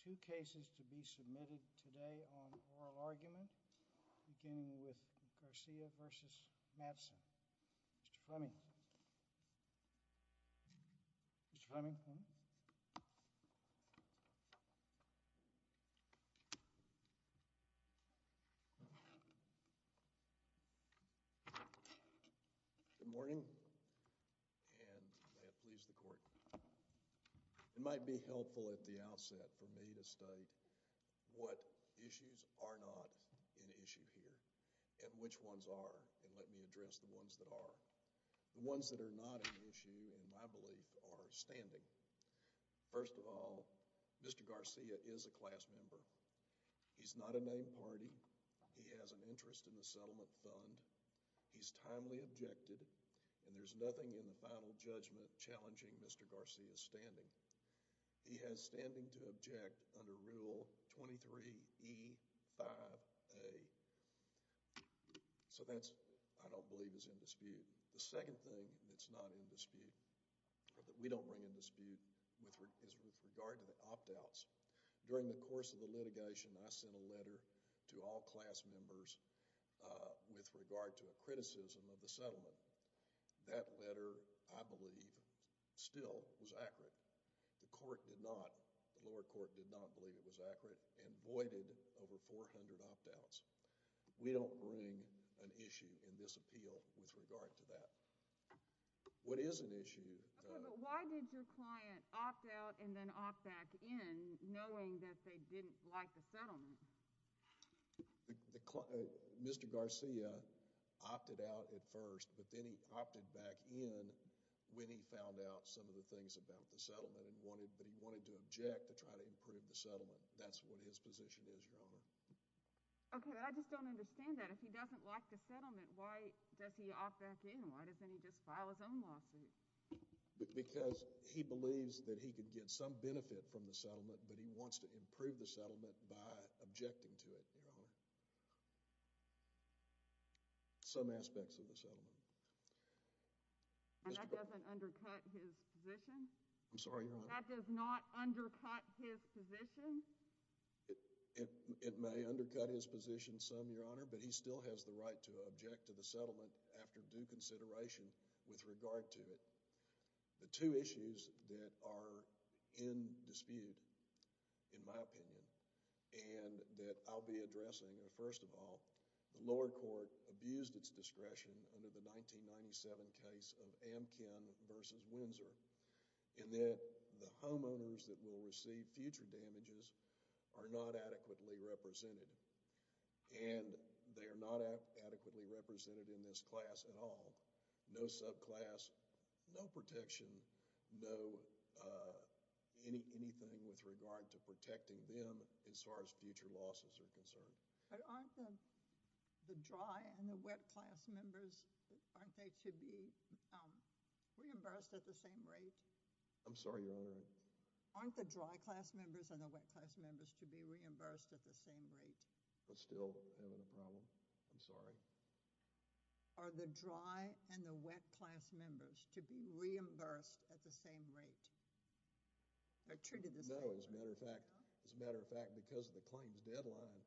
Two cases to be submitted today on oral argument, beginning with Garcia v. Madsen. Mr. Fleming. Mr. Fleming. Good morning, and may it please the court. It might be helpful at the outset for me to state what issues are not an issue here, and which ones are, and let me address the ones that are. The ones that are not an issue, in my belief, are standing. First of all, Mr. Garcia is a class member. He's not a named party. He has an interest in the settlement fund. He's timely objected, and there's nothing in the final judgment challenging Mr. Garcia's standing. He has standing to object under Rule 23E5A. So that, I don't believe, is in dispute. The second thing that's not in dispute, or that we don't bring in dispute, is with regard to the opt-outs. During the course of the litigation, I sent a letter to all class members with regard to a criticism of the settlement. That letter, I believe, still was accurate. The court did not, the lower court did not believe it was accurate, and voided over 400 opt-outs. We don't bring an issue in this appeal with regard to that. What is an issue— But why did your client opt out and then opt back in, knowing that they didn't like the settlement? Mr. Garcia opted out at first, but then he opted back in when he found out some of the things about the settlement. But he wanted to object to try to improve the settlement. That's what his position is, Your Honor. Okay, but I just don't understand that. If he doesn't like the settlement, why does he opt back in? Why doesn't he just file his own lawsuit? Because he believes that he could get some benefit from the settlement, but he wants to improve the settlement by objecting to it, Your Honor. Some aspects of the settlement. And that doesn't undercut his position? I'm sorry, Your Honor. That does not undercut his position? It may undercut his position some, Your Honor, but he still has the right to object to the settlement after due consideration with regard to it. The two issues that are in dispute, in my opinion, and that I'll be addressing are, first of all, the lower court abused its discretion under the 1997 case of Amkin v. Windsor, in that the homeowners that will receive future damages are not adequately represented. And they are not adequately represented in this class at all. No subclass, no protection, no anything with regard to protecting them as far as future losses are concerned. But aren't the dry and the wet class members, aren't they to be reimbursed at the same rate? I'm sorry, Your Honor. Aren't the dry class members and the wet class members to be reimbursed at the same rate? I'm still having a problem. I'm sorry. Are the dry and the wet class members to be reimbursed at the same rate? No, as a matter of fact, because of the claims deadline,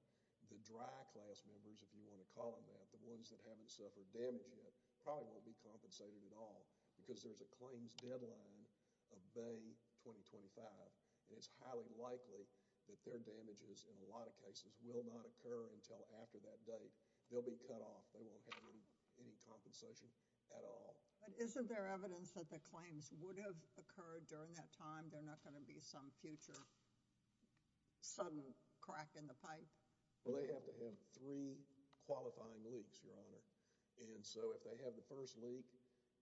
the dry class members, if you want to call them that, the ones that haven't suffered damage yet, probably won't be compensated at all because there's a claims deadline of May 2025. And it's highly likely that their damages in a lot of cases will not occur until after that date. They'll be cut off. They won't have any compensation at all. But isn't there evidence that the claims would have occurred during that time? They're not going to be some future sudden crack in the pipe? Well, they have to have three qualifying leaks, Your Honor. And so if they have the first leak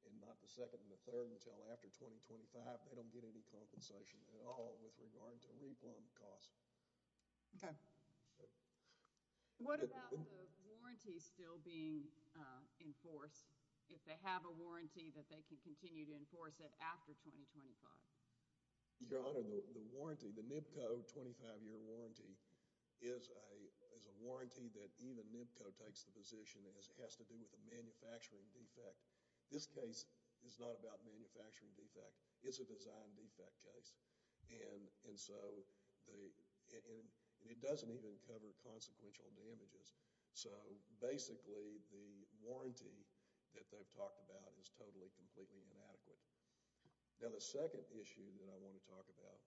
and not the second and the third until after 2025, they don't get any compensation at all with regard to re-plumb costs. Okay. What about the warranty still being enforced? If they have a warranty that they can continue to enforce it after 2025? Your Honor, the warranty, the NBCO 25-year warranty, is a warranty that even NBCO takes the position as it has to do with a manufacturing defect. This case is not about manufacturing defect. It's a design defect case. And so it doesn't even cover consequential damages. So basically the warranty that they've talked about is totally, completely inadequate. Now the second issue that I want to talk about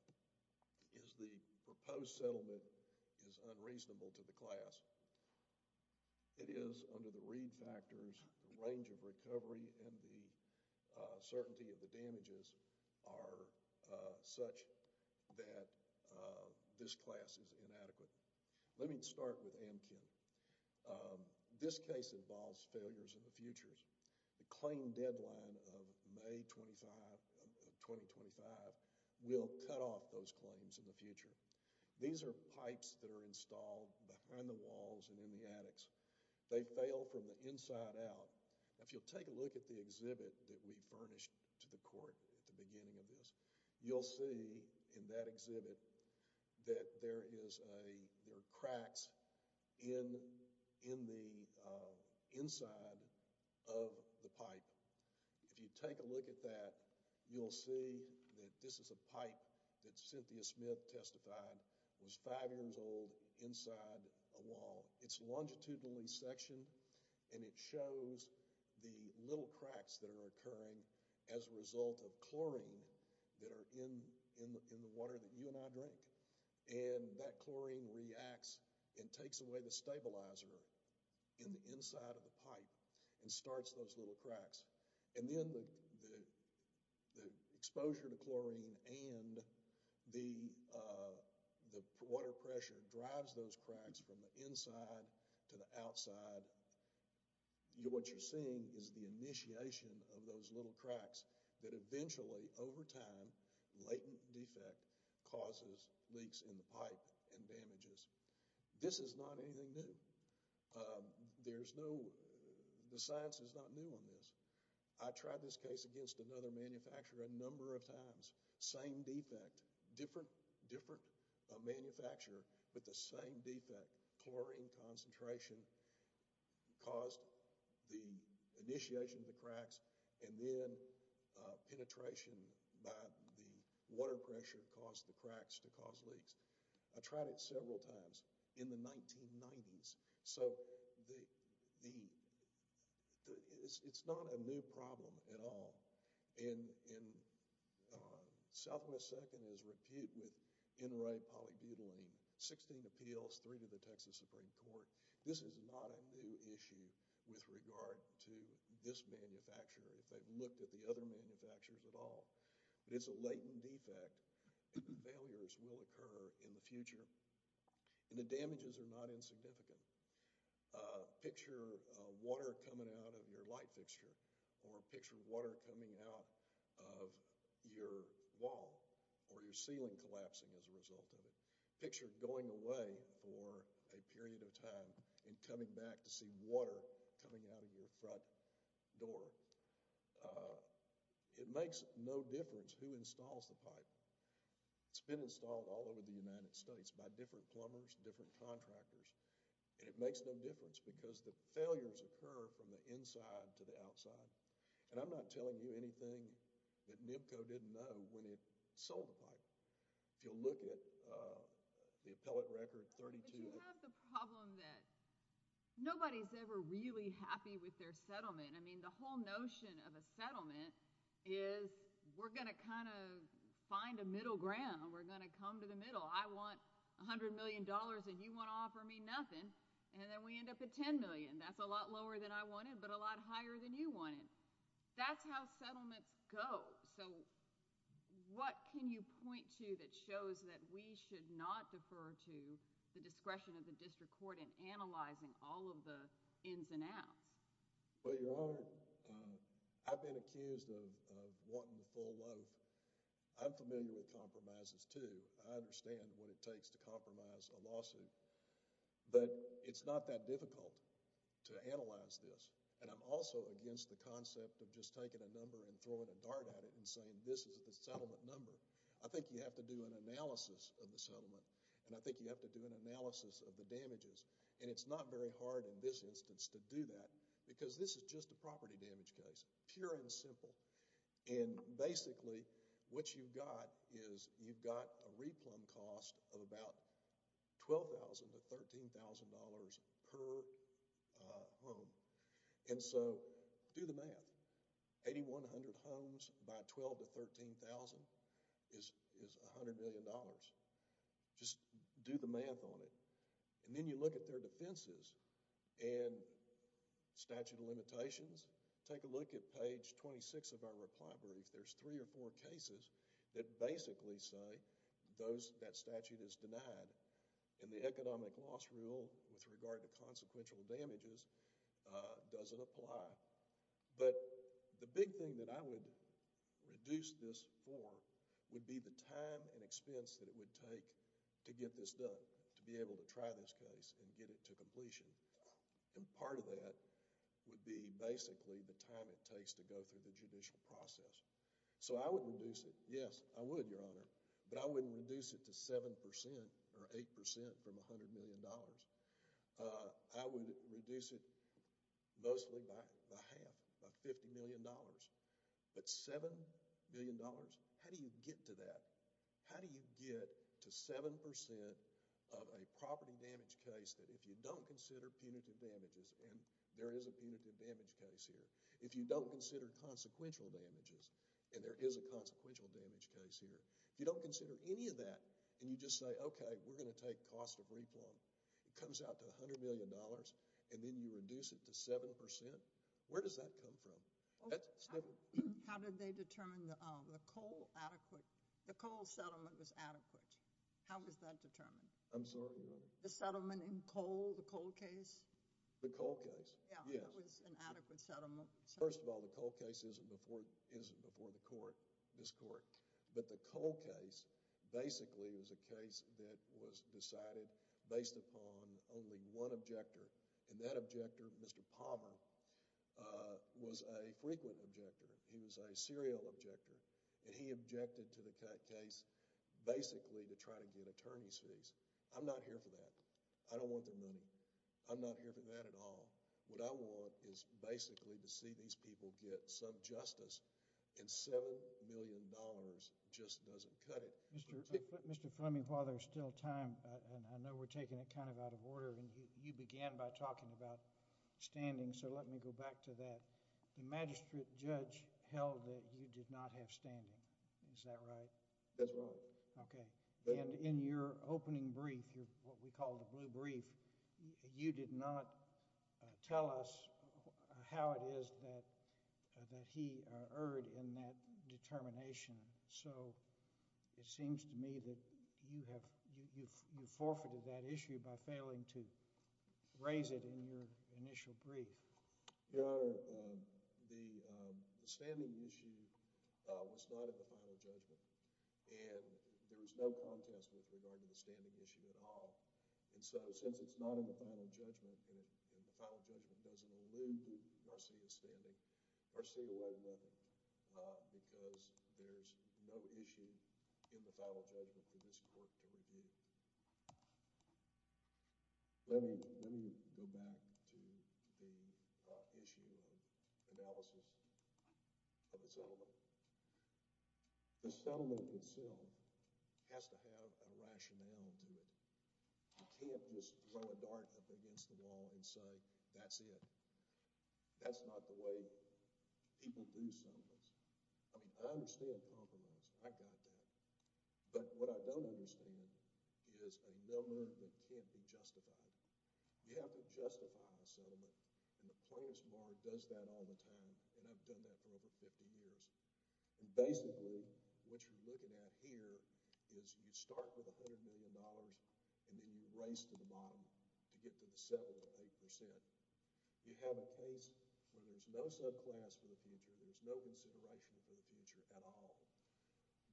is the proposed settlement is unreasonable to the class. It is under the reed factors. The range of recovery and the certainty of the damages are such that this class is inadequate. Let me start with Amkin. This case involves failures in the futures. The claim deadline of May 25, 2025, will cut off those claims in the future. These are pipes that are installed behind the walls and in the attics. They fail from the inside out. If you'll take a look at the exhibit that we furnished to the court at the beginning of this, you'll see in that exhibit that there are cracks in the inside of the pipe. If you take a look at that, you'll see that this is a pipe that Cynthia Smith testified was five years old inside a wall. It's longitudinally sectioned and it shows the little cracks that are occurring as a result of chlorine that are in the water that you and I drink. And that chlorine reacts and takes away the stabilizer in the inside of the pipe and starts those little cracks. And then the exposure to chlorine and the water pressure drives those cracks from the inside to the outside. What you're seeing is the initiation of those little cracks that eventually, over time, latent defect causes leaks in the pipe and damages. This is not anything new. The science is not new on this. I tried this case against another manufacturer a number of times. Same defect, different manufacturer, but the same defect. Chlorine concentration caused the initiation of the cracks and then penetration by the water pressure caused the cracks to cause leaks. I tried it several times in the 1990s. So, it's not a new problem at all. Southwest Second is reputed with NRA polybutylene. Sixteen appeals, three to the Texas Supreme Court. This is not a new issue with regard to this manufacturer, if they've looked at the other manufacturers at all. It's a latent defect. Failures will occur in the future. And the damages are not insignificant. Picture water coming out of your light fixture or picture water coming out of your wall or your ceiling collapsing as a result of it. Picture going away for a period of time and coming back to see water coming out of your front door. It makes no difference who installs the pipe. It's been installed all over the United States by different plumbers, different contractors. And it makes no difference because the failures occur from the inside to the outside. And I'm not telling you anything that NIBCO didn't know when it sold the pipe. If you look at the appellate record, 32— But you have the problem that nobody's ever really happy with their settlement. I mean, the whole notion of a settlement is we're going to kind of find a middle ground. We're going to come to the middle. I want $100 million, and you want to offer me nothing. And then we end up at $10 million. That's a lot lower than I wanted but a lot higher than you wanted. That's how settlements go. So what can you point to that shows that we should not defer to the discretion of the district court in analyzing all of the ins and outs? Well, Your Honor, I've been accused of wanting the full loaf. I'm familiar with compromises, too. I understand what it takes to compromise a lawsuit. But it's not that difficult to analyze this. And I'm also against the concept of just taking a number and throwing a dart at it and saying this is the settlement number. I think you have to do an analysis of the settlement, and I think you have to do an analysis of the damages. And it's not very hard in this instance to do that because this is just a property damage case, pure and simple. And basically what you've got is you've got a replumb cost of about $12,000 to $13,000 per home. And so do the math. 8,100 homes by 12,000 to 13,000 is $100 million. Just do the math on it. And then you look at their defenses and statute of limitations. Take a look at page 26 of our reply brief. There's three or four cases that basically say that statute is denied. And the economic loss rule with regard to consequential damages doesn't apply. But the big thing that I would reduce this for would be the time and expense that it would take to get this done, to be able to try this case and get it to completion. And part of that would be basically the time it takes to go through the judicial process. So I would reduce it. Yes, I would, Your Honor. But I wouldn't reduce it to 7% or 8% from $100 million. I would reduce it mostly by half, by $50 million. But $7 million? How do you get to that? How do you get to 7% of a property damage case that if you don't consider punitive damages, and there is a punitive damage case here, if you don't consider consequential damages, and there is a consequential damage case here, if you don't consider any of that and you just say, okay, we're going to take cost of replumb, it comes out to $100 million, and then you reduce it to 7%, where does that come from? How did they determine the coal settlement was adequate? How was that determined? I'm sorry, Your Honor. The settlement in coal, the coal case? The coal case, yes. Yeah, it was an adequate settlement. First of all, the coal case isn't before the court, this court. But the coal case basically was a case that was decided based upon only one objector, and that objector, Mr. Palmer, was a frequent objector. He was a serial objector, and he objected to the case basically to try to get attorney's fees. I'm not here for that. I don't want their money. I'm not here for that at all. What I want is basically to see these people get some justice, and $7 million just doesn't cut it. Mr. Fleming, while there's still time, and I know we're taking it kind of out of order, and you began by talking about standing, so let me go back to that. The magistrate judge held that you did not have standing. Is that right? That's right. Okay. And in your opening brief, what we call the blue brief, you did not tell us how it is that he erred in that determination. So it seems to me that you forfeited that issue by failing to raise it in your initial brief. Your Honor, the standing issue was not at the final judgment, and there was no contest with regard to the standing issue at all. And so, since it's not in the final judgment, and the final judgment doesn't allude to Garcia's standing, Garcia went with it because there's no issue in the final judgment for this court to review. Let me go back to the issue and analysis of the settlement. The settlement itself has to have a rationale to it. You can't just throw a dart up against the wall and say, that's it. That's not the way people do settlements. I mean, I understand compromise. I got that. But what I don't understand is a number that can't be justified. You have to justify a settlement, and the plaintiff's bar does that all the time, and I've done that for over 50 years. And basically, what you're looking at here is you start with $100 million, and then you race to the bottom to get to the settlement at 8%. You have a case where there's no subclass for the future. There's no consideration for the future at all.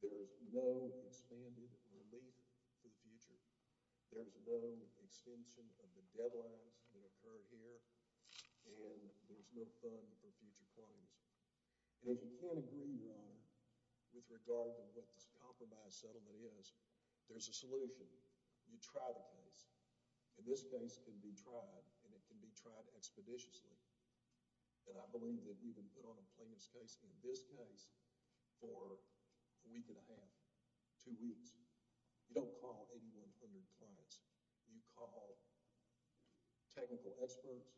There's no expanded relief for the future. There's no extension of the deadlines that occurred here, and there's no fund for future claims. And if you can't agree, Your Honor, with regard to what this compromise settlement is, there's a solution. You try the case. And this case can be tried, and it can be tried expeditiously. And I believe that we will put on a plaintiff's case, in this case, for a week and a half, two weeks. You don't call 8,100 clients. You call technical experts,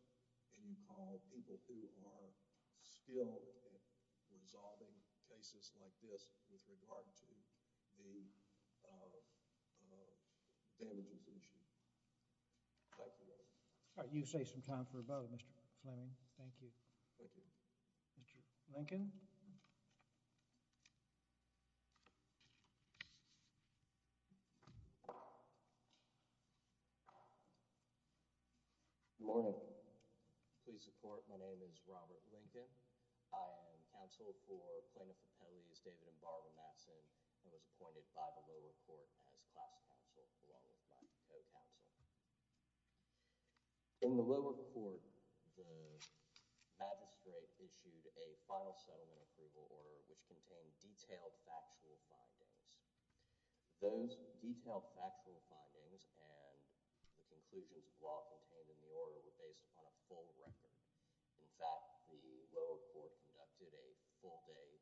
and you call people who are skilled at resolving cases like this with regard to the damages issue. Thank you, Your Honor. All right. You save some time for a vote, Mr. Fleming. Thank you. Thank you. Mr. Lincoln? Good morning. Please support. My name is Robert Lincoln. I am counsel for Plaintiff Appellees David and Barbara Matson. I was appointed by the lower court as class counsel, along with my co-counsel. In the lower court, the magistrate issued a final settlement approval order, which contained detailed factual findings. Those detailed factual findings and the conclusions of law contained in the order were based upon a full record. In fact, the lower court conducted a full-day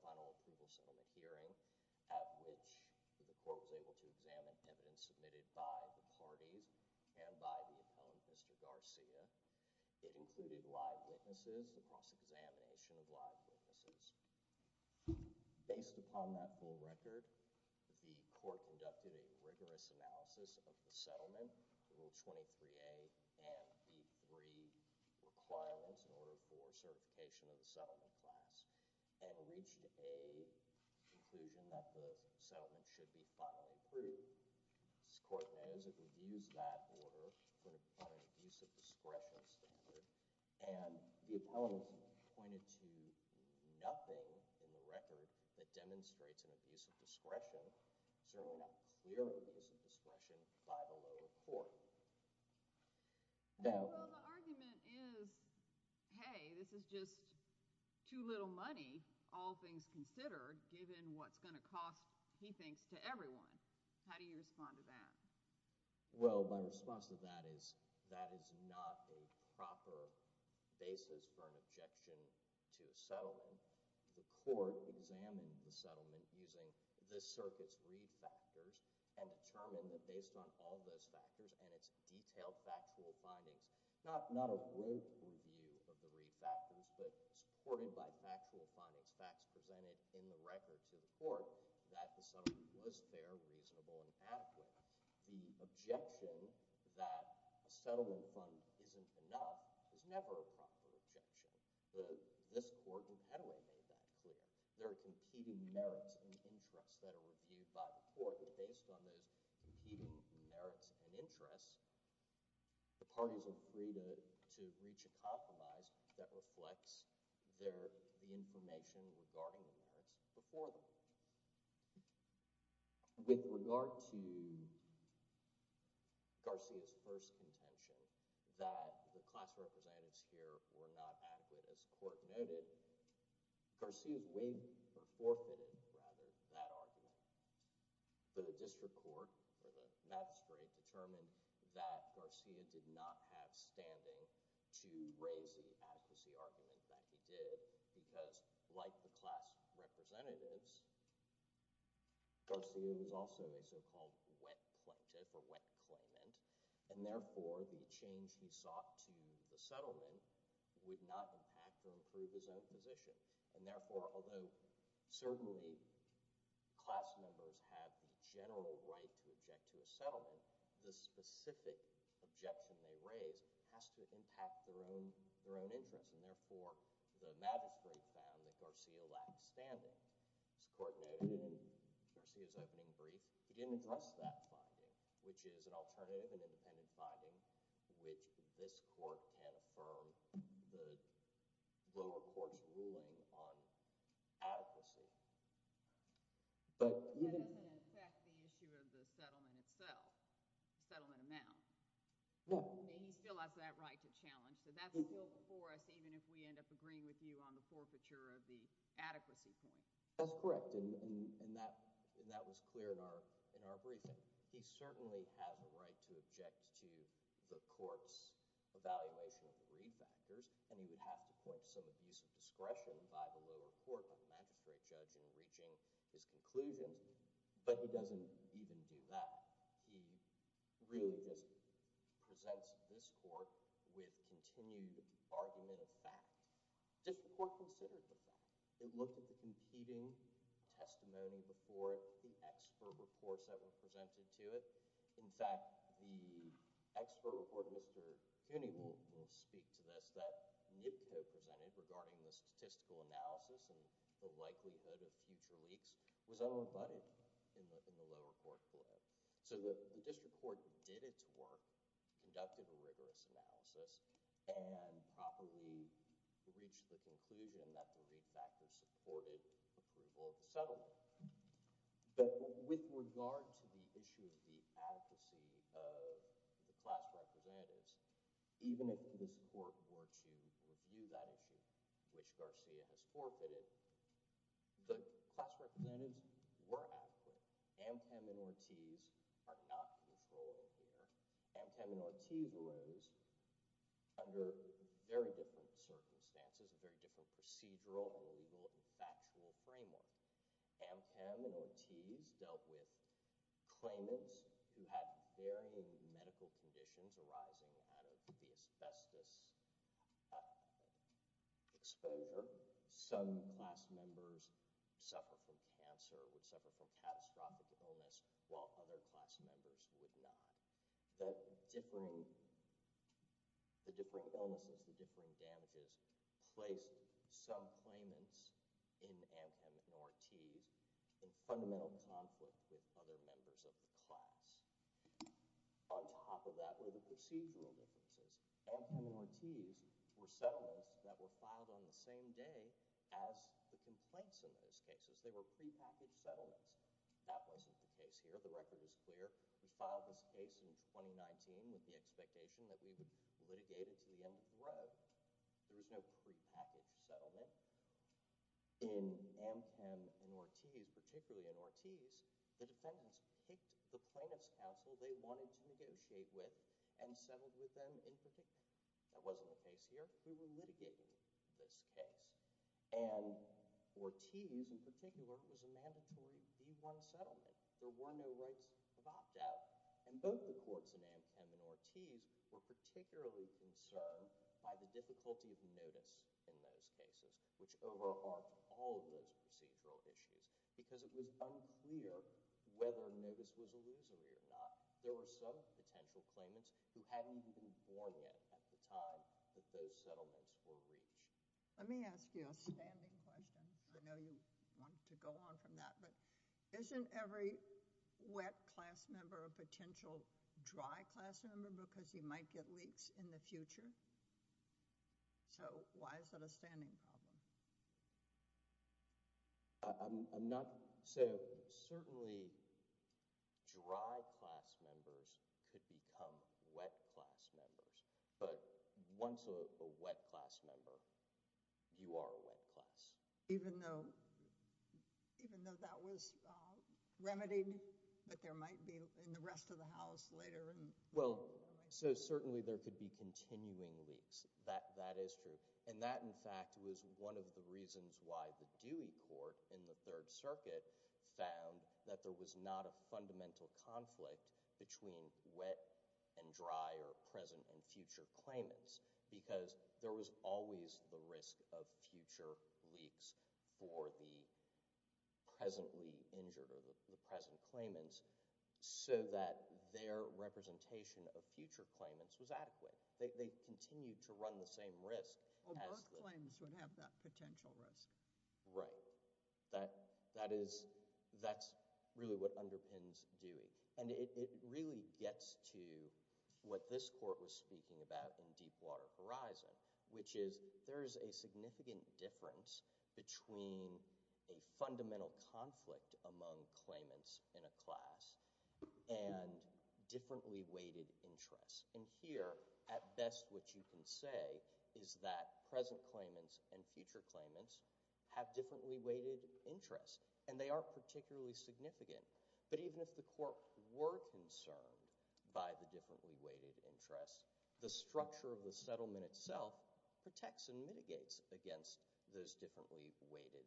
final approval settlement hearing at which the court was able to examine evidence submitted by the parties and by the appellant, Mr. Garcia. It included live witnesses, the cross-examination of live witnesses. Based upon that full record, the court conducted a rigorous analysis of the settlement, Rule 23A, and the three requirements in order for certification of the settlement class and reached a conclusion that the settlement should be finally approved. As the court knows, it reviews that order on an abuse of discretion standard, and the appellant is appointed to nothing in the record that demonstrates an abuse of discretion, certainly not clearly an abuse of discretion, by the lower court. Well, the argument is, hey, this is just too little money, all things considered, given what's going to cost, he thinks, to everyone. How do you respond to that? Well, my response to that is that is not a proper basis for an objection to a settlement. The court examined the settlement using the circuit's read factors and determined that based on all those factors and its detailed factual findings, not a brief review of the read factors, but supported by factual findings, facts presented in the record to the court, that the settlement was fair, reasonable, and adequate. The objection that a settlement fund isn't enough is never a proper objection. This court in Pettway made that clear. There are competing merits and interests that are reviewed by the court, and based on those competing merits and interests, the parties are free to reach a compromise that reflects the information regarding the merits before them. With regard to Garcia's first contention that the class representatives here were not adequate, as the court noted, Garcia forfeited that argument. The district court, or the magistrate, determined that Garcia did not have standing to raise the adequacy argument that he did because, like the class representatives, Garcia was also a so-called wet plaintiff or wet claimant, and therefore the change he sought to the settlement would not impact or improve his own position. And therefore, although certainly class members have the general right to object to a settlement, the specific objection they raise has to impact their own interests, and therefore the magistrate found that Garcia lacked standing. As the court noted in Garcia's opening brief, he didn't address that finding, which is an alternative and independent finding which this court can affirm the lower court's ruling on adequacy. But it doesn't affect the issue of the settlement itself, the settlement amount. And he still has that right to challenge, so that's still before us even if we end up agreeing with you on the forfeiture of the adequacy point. That's correct, and that was clear in our briefing. He certainly has a right to object to the court's evaluation of the brief actors, and he would have to point to some abuse of discretion by the lower court or the magistrate judge in reaching his conclusions, but he doesn't even do that. He really just presents this court with continued argument of fact. This court considered the fact. It looked at the competing testimony before it, the expert reports that were presented to it. In fact, the expert report, Mr. Cooney will speak to this, that NIPCO presented regarding the statistical analysis and the likelihood of future leaks was unrebutted in the lower court court. So the district court did its work, conducted a rigorous analysis, and properly reached the conclusion that the read factor supported approval of the settlement. But with regard to the issue of the adequacy of the class representatives, even if this court were to review that issue, which Garcia has forfeited, the class representatives were adequate. Amchem and Ortiz are not in control here. Amchem and Ortiz rose under very different circumstances, a very different procedural and legal and factual framework. Amchem and Ortiz dealt with claimants who had varying medical conditions arising out of the asbestos exposure. Some class members suffer from cancer, would suffer from catastrophic illness, while other class members would not. The differing illnesses, the differing damages placed some claimants in Amchem and Ortiz in fundamental conflict with other members of the class. On top of that were the procedural differences. Amchem and Ortiz were settlements that were filed on the same day as the complaints in those cases. They were prepackaged settlements. That wasn't the case here. The record is clear. We filed this case in 2019 with the expectation that we would litigate it to the end of the road. There was no prepackaged settlement. In Amchem and Ortiz, particularly in Ortiz, the defendants picked the plaintiff's counsel they wanted to negotiate with and settled with them in particular. That wasn't the case here. We were litigating this case. And Ortiz, in particular, was a mandatory B-1 settlement. There were no rights of opt-out. And both the courts in Amchem and Ortiz were particularly concerned by the difficulty of notice in those cases, which overarched all of those procedural issues because it was unclear whether notice was illusory or not. There were some potential claimants who hadn't even been born yet at the time that those settlements were reached. Let me ask you a standing question. I know you want to go on from that, but isn't every wet class member a potential dry class member because you might get leaks in the future? So why is that a standing problem? I'm not—so certainly dry class members could become wet class members, but once a wet class member, you are a wet class. Even though that was remedied, but there might be in the rest of the House later— Well, so certainly there could be continuing leaks. That is true. And that, in fact, was one of the reasons why the Dewey Court in the Third Circuit found that there was not a fundamental conflict between wet and dry or present and future claimants because there was always the risk of future leaks for the presently injured or the present claimants so that their representation of future claimants was adequate. They continued to run the same risk as— Well, Burke claims would have that potential risk. Right. That is—that's really what underpins Dewey. And it really gets to what this Court was speaking about in Deepwater Horizon, which is there is a significant difference between a fundamental conflict among claimants in a class and differently weighted interests. And here, at best, what you can say is that present claimants and future claimants have differently weighted interests, and they aren't particularly significant. But even if the Court were concerned by the differently weighted interests, the structure of the settlement itself protects and mitigates against those differently weighted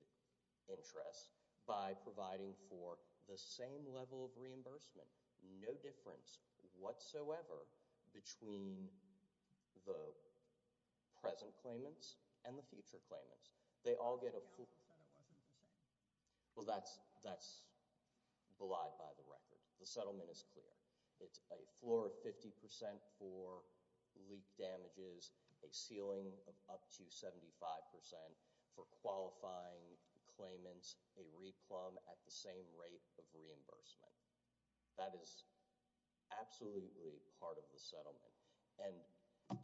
interests by providing for the same level of reimbursement, no difference whatsoever between the present claimants and the future claimants. They all get a full— You said it wasn't the same. Well, that's belied by the record. The settlement is clear. It's a floor of 50% for leak damages, a ceiling of up to 75% for qualifying claimants, a re-plumb at the same rate of reimbursement. That is absolutely part of the settlement. And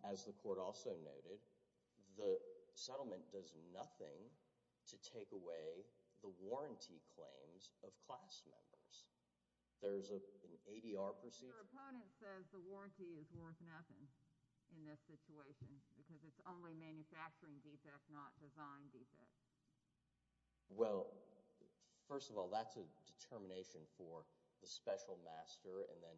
as the Court also noted, the settlement does nothing to take away the warranty claims of class members. There's an ADR procedure— Your opponent says the warranty is worth nothing in this situation because it's only manufacturing defect, not design defect. Well, first of all, that's a determination for the special master and then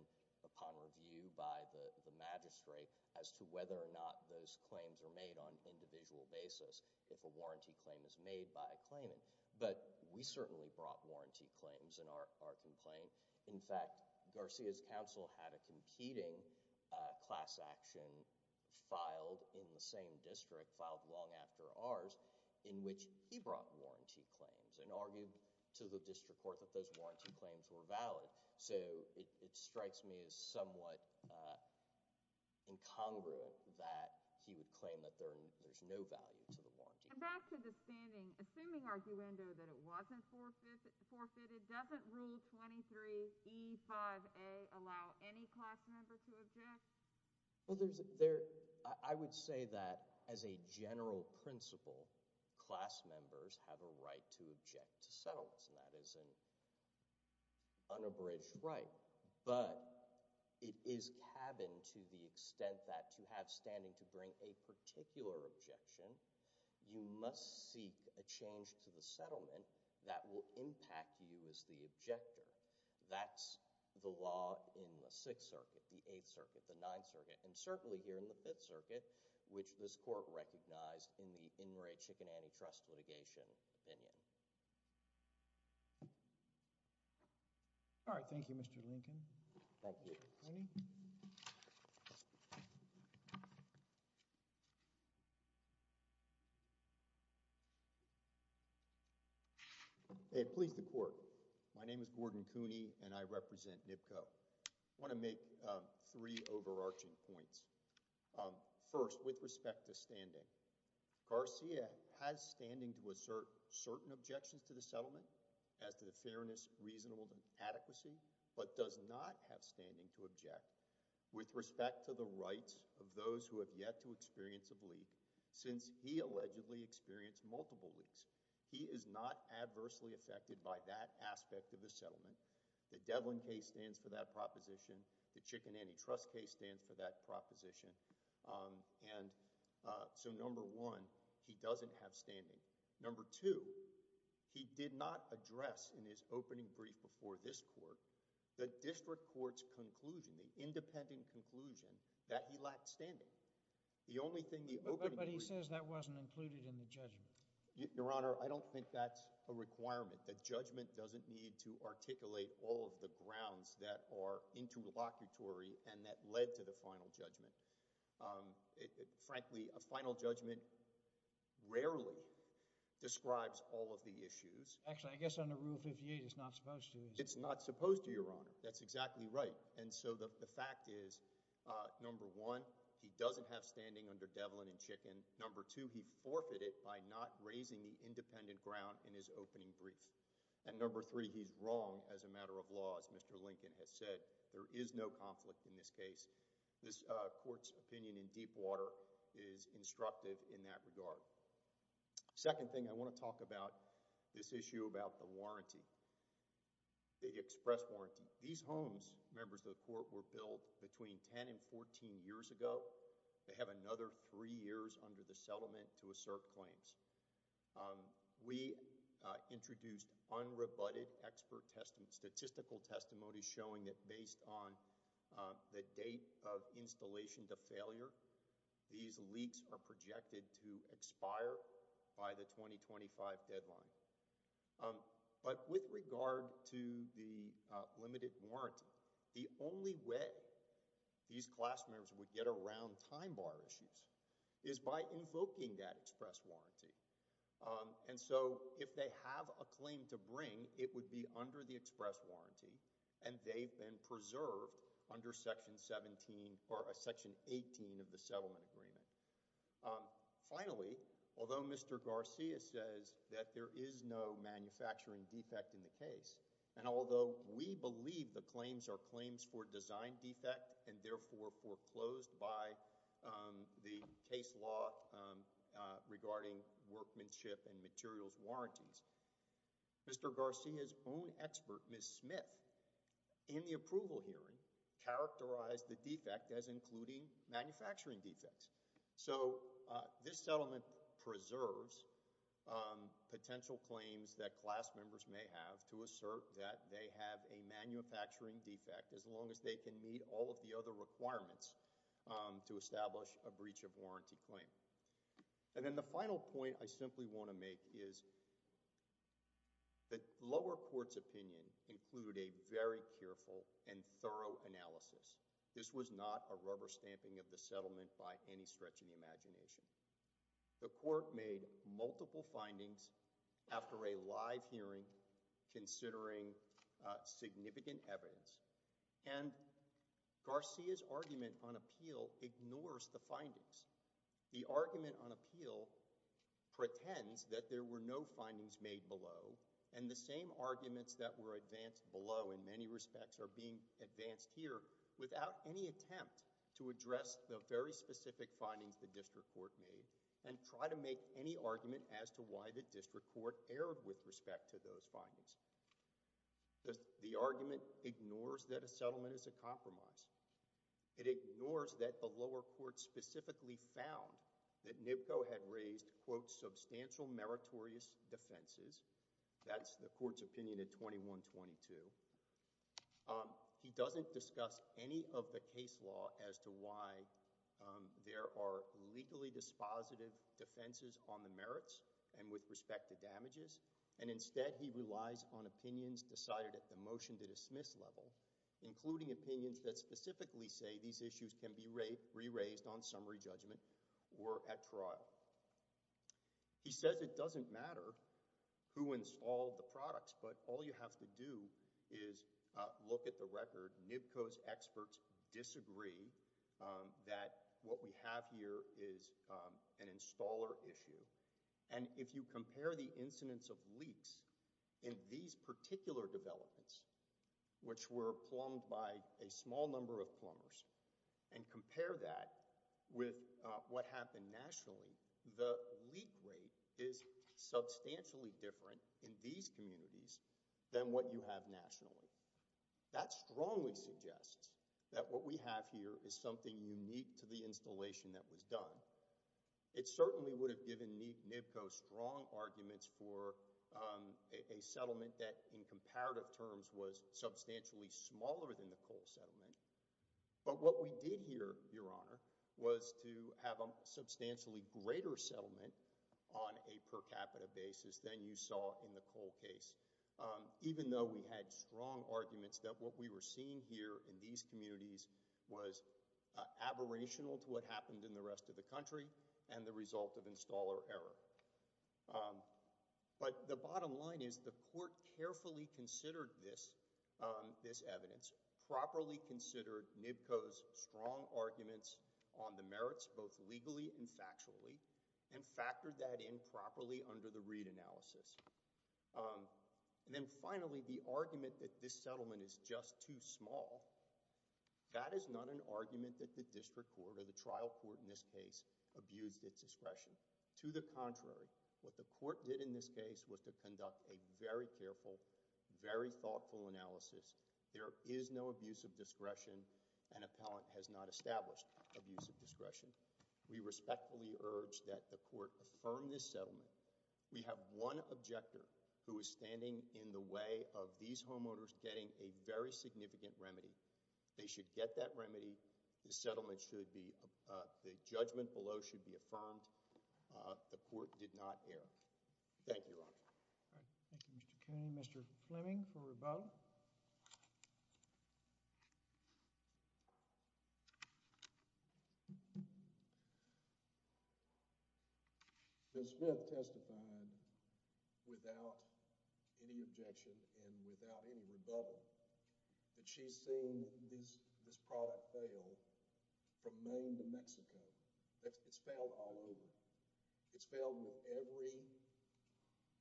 upon review by the magistrate as to whether or not those claims are made on an individual basis if a warranty claim is made by a claimant. But we certainly brought warranty claims in our complaint. In fact, Garcia's counsel had a competing class action filed in the same district, filed long after ours, in which he brought warranty claims and argued to the district court that those warranty claims were valid. So it strikes me as somewhat incongruent that he would claim that there's no value to the warranty. And back to the standing. Assuming arguendo that it wasn't forfeited, doesn't Rule 23E5A allow any class member to object? Well, I would say that as a general principle, class members have a right to object to settlements, and that is an unabridged right. But it is cabin to the extent that to have standing to bring a particular objection, you must seek a change to the settlement that will impact you as the objector. That's the law in the Sixth Circuit, the Eighth Circuit, the Ninth Circuit, and certainly here in the Fifth Circuit, which this court recognized in the Inouye Chicken Antitrust litigation opinion. All right. Thank you, Mr. Lincoln. Thank you. Cooney? May it please the court. My name is Gordon Cooney, and I represent NIPCO. I want to make three overarching points. First, with respect to standing, Garcia has standing to assert certain objections to the settlement as to the fairness, reasonableness, and adequacy, but does not have standing to object with respect to the rights of those who have yet to experience a bleak since he allegedly experienced multiple leaks. He is not adversely affected by that aspect of the settlement. The Devlin case stands for that proposition. The Chicken Antitrust case stands for that proposition. And so, number one, he doesn't have standing. Number two, he did not address in his opening brief before this court the district court's conclusion, the independent conclusion that he lacked standing. The only thing the opening brief— But he says that wasn't included in the judgment. Your Honor, I don't think that's a requirement. The judgment doesn't need to articulate all of the grounds that are interlocutory and that led to the final judgment. Frankly, a final judgment rarely describes all of the issues. Actually, I guess under Rule 58, it's not supposed to. It's not supposed to, Your Honor. That's exactly right. And so the fact is, number one, he doesn't have standing under Devlin and Chicken. And number two, he forfeited by not raising the independent ground in his opening brief. And number three, he's wrong as a matter of law, as Mr. Lincoln has said. There is no conflict in this case. This court's opinion in Deepwater is instructive in that regard. Second thing, I want to talk about this issue about the warranty, the express warranty. These homes, members of the court, were built between 10 and 14 years ago. They have another three years under the settlement to assert claims. We introduced unrebutted expert statistical testimony showing that based on the date of installation to failure, these leaks are projected to expire by the 2025 deadline. But with regard to the limited warranty, the only way these class members would get around time bar issues is by invoking that express warranty. And so if they have a claim to bring, it would be under the express warranty, and they've been preserved under Section 17 or Section 18 of the settlement agreement. Finally, although Mr. Garcia says that there is no manufacturing defect in the case, and although we believe the claims are claims for design defect and therefore foreclosed by the case law regarding workmanship and materials warranties, Mr. Garcia's own expert, Ms. Smith, in the approval hearing, characterized the defect as including manufacturing defects. So this settlement preserves potential claims that class members may have to assert that they have a manufacturing defect as long as they can meet all of the other requirements to establish a breach of warranty claim. And then the final point I simply want to make is that the lower court's opinion included a very careful and thorough analysis. This was not a rubber stamping of the settlement by any stretch of the imagination. The court made multiple findings after a live hearing considering significant evidence, and Garcia's argument on appeal ignores the findings. The argument on appeal pretends that there were no findings made below, and the same arguments that were advanced below in many respects are being advanced here without any attempt to address the very specific findings the district court made and try to make any argument as to why the district court erred with respect to those findings. The argument ignores that a settlement is a compromise. It ignores that the lower court specifically found that NIPCO had raised, quote, substantial meritorious defenses. That's the court's opinion at 21-22. He doesn't discuss any of the case law as to why there are legally dispositive defenses on the merits and with respect to damages, and instead he relies on opinions decided at the motion to dismiss level, including opinions that specifically say these issues can be re-raised on summary judgment or at trial. He says it doesn't matter who installed the products, but all you have to do is look at the record. NIPCO's experts disagree that what we have here is an installer issue, and if you compare the incidence of leaks in these particular developments, which were plumbed by a small number of plumbers, and compare that with what happened nationally, the leak rate is substantially different in these communities than what you have nationally. That strongly suggests that what we have here is something unique to the installation that was done. It certainly would have given NIPCO strong arguments for a settlement that in comparative terms was substantially smaller than the coal settlement, but what we did here, Your Honor, was to have a substantially greater settlement on a per capita basis than you saw in the coal case, even though we had strong arguments that what we were seeing here in these communities was aberrational to what happened in the rest of the country and the result of installer error. But the bottom line is the court carefully considered this evidence, properly considered NIPCO's strong arguments on the merits both legally and factually, and factored that in properly under the Reid analysis. And then finally, the argument that this settlement is just too small, that is not an argument that the district court or the trial court in this case abused its discretion. To the contrary, what the court did in this case was to conduct a very careful, very thoughtful analysis. There is no abuse of discretion, and appellant has not established abuse of discretion. We respectfully urge that the court affirm this settlement. We have one objector who is standing in the way of these homeowners getting a very significant remedy. They should get that remedy. The settlement should be—the judgment below should be affirmed. The court did not err. Thank you, Your Honor. All right. Thank you, Mr. Cooney. Mr. Fleming for rebuttal. Ms. Smith testified without any objection and without any rebuttal that she's seen this product fail from Maine to Mexico. It's failed all over. It's failed with every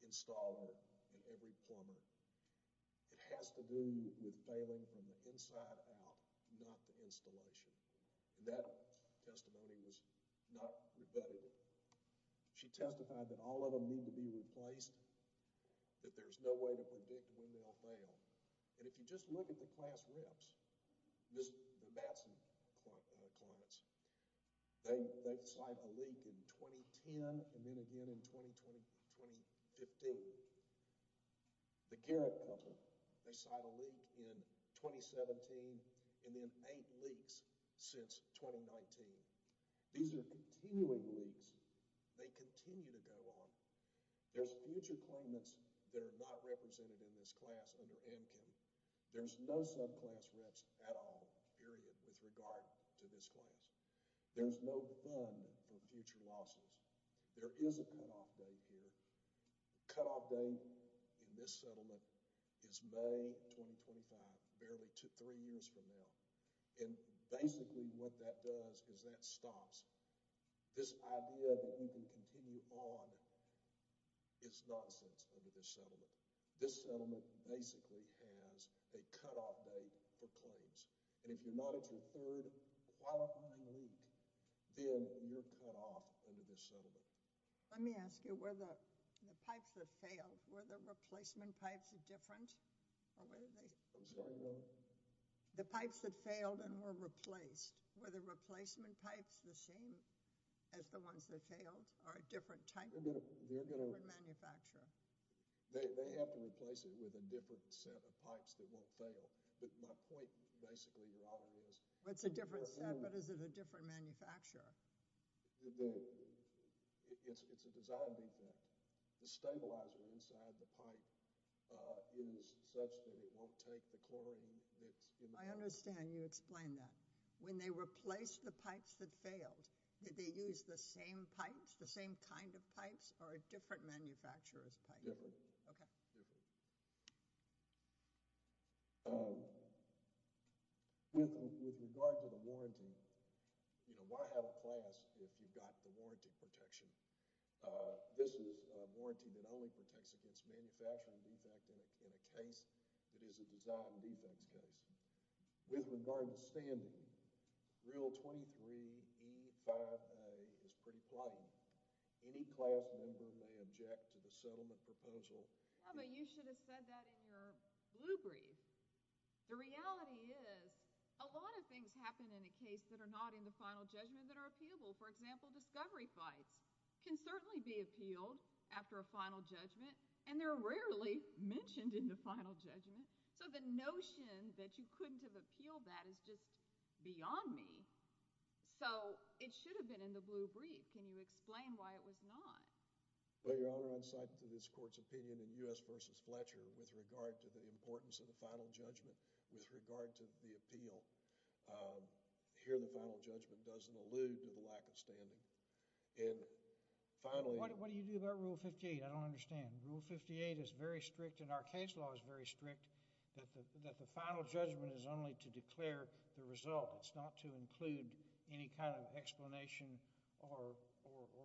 installer and every plumber. It has to do with failing from the inside out, not the installation. And that testimony was not rebutted. She testified that all of them need to be replaced, that there's no way to predict when they'll fail. And if you just look at the class reps, the Matson claimants, they've signed a leak in 2010 and then again in 2015. The Garrett couple, they signed a leak in 2017 and then eight leaks since 2019. These are continuing leaks. They continue to go on. There's future claimants that are not represented in this class under Amkin. There's no subclass reps at all, period, with regard to this class. There's no fund for future losses. There is a cutoff date here. The cutoff date in this settlement is May 2025, barely three years from now. And basically what that does is that stops this idea that you can continue on is nonsense under this settlement. This settlement basically has a cutoff date for claims. And if you're not at your third qualifying leak, then you're cut off under this settlement. Let me ask you, were the pipes that failed, were the replacement pipes different? I'm sorry, what? The pipes that failed and were replaced, were the replacement pipes the same as the ones that failed or a different type? A different manufacturer. They have to replace it with a different set of pipes that won't fail. But my point basically, Your Honor, is— It's a different set, but is it a different manufacturer? It's a design defect. The stabilizer inside the pipe is such that it won't take the chlorine that's in the pipe. I understand. You explained that. When they replaced the pipes that failed, did they use the same pipes, the same kind of pipes, or a different manufacturer's pipe? Different. Okay. With regard to the warranty, you know, why have a class if you've got the warranty protection? This is a warranty that only protects against manufacturing defect in a case that is a design defense case. With regard to standing, Rule 23E5A is pretty plain. Any class member may object to the settlement proposal. Yeah, but you should have said that in your blue brief. The reality is, a lot of things happen in a case that are not in the final judgment that are appealable. For example, discovery fights can certainly be appealed after a final judgment, and they're rarely mentioned in the final judgment. So the notion that you couldn't have appealed that is just beyond me. So it should have been in the blue brief. Can you explain why it was not? Well, Your Honor, I'm citing to this court's opinion in U.S. v. Fletcher with regard to the importance of the final judgment with regard to the appeal. Here, the final judgment doesn't allude to the lack of standing. And finally— What do you do about Rule 58? I don't understand. Rule 58 is very strict, and our case law is very strict, that the final judgment is only to declare the result. It's not to include any kind of explanation or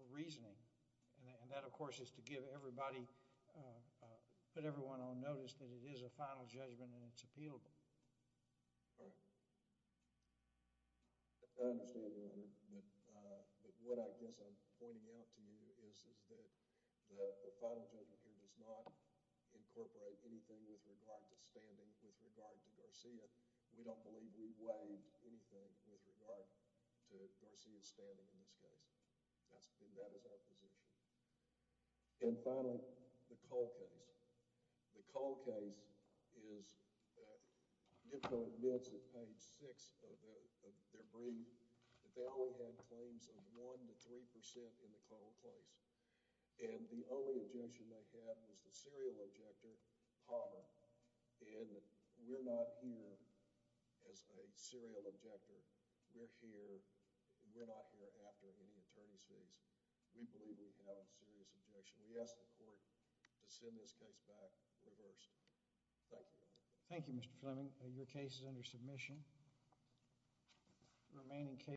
reasoning. And that, of course, is to put everyone on notice that it is a final judgment and it's appealable. All right. I understand, Your Honor. But what I guess I'm pointing out to you is that the final judgment here does not incorporate anything with regard to standing with regard to Garcia. We don't believe we weighed anything with regard to Garcia's standing in this case. And that is our position. And finally, the Cole case. The Cole case is—Ditko admits at page 6 of their brief that they only had claims of 1 to 3 percent in the Cole case. And the only objection they had was the serial objector, Palmer. And we're not here as a serial objector. We're here—we're not here after getting attorney's fees. We believe we have a serious objection. We ask the court to send this case back reversed. Thank you. Thank you, Mr. Fleming. Your case is under submission.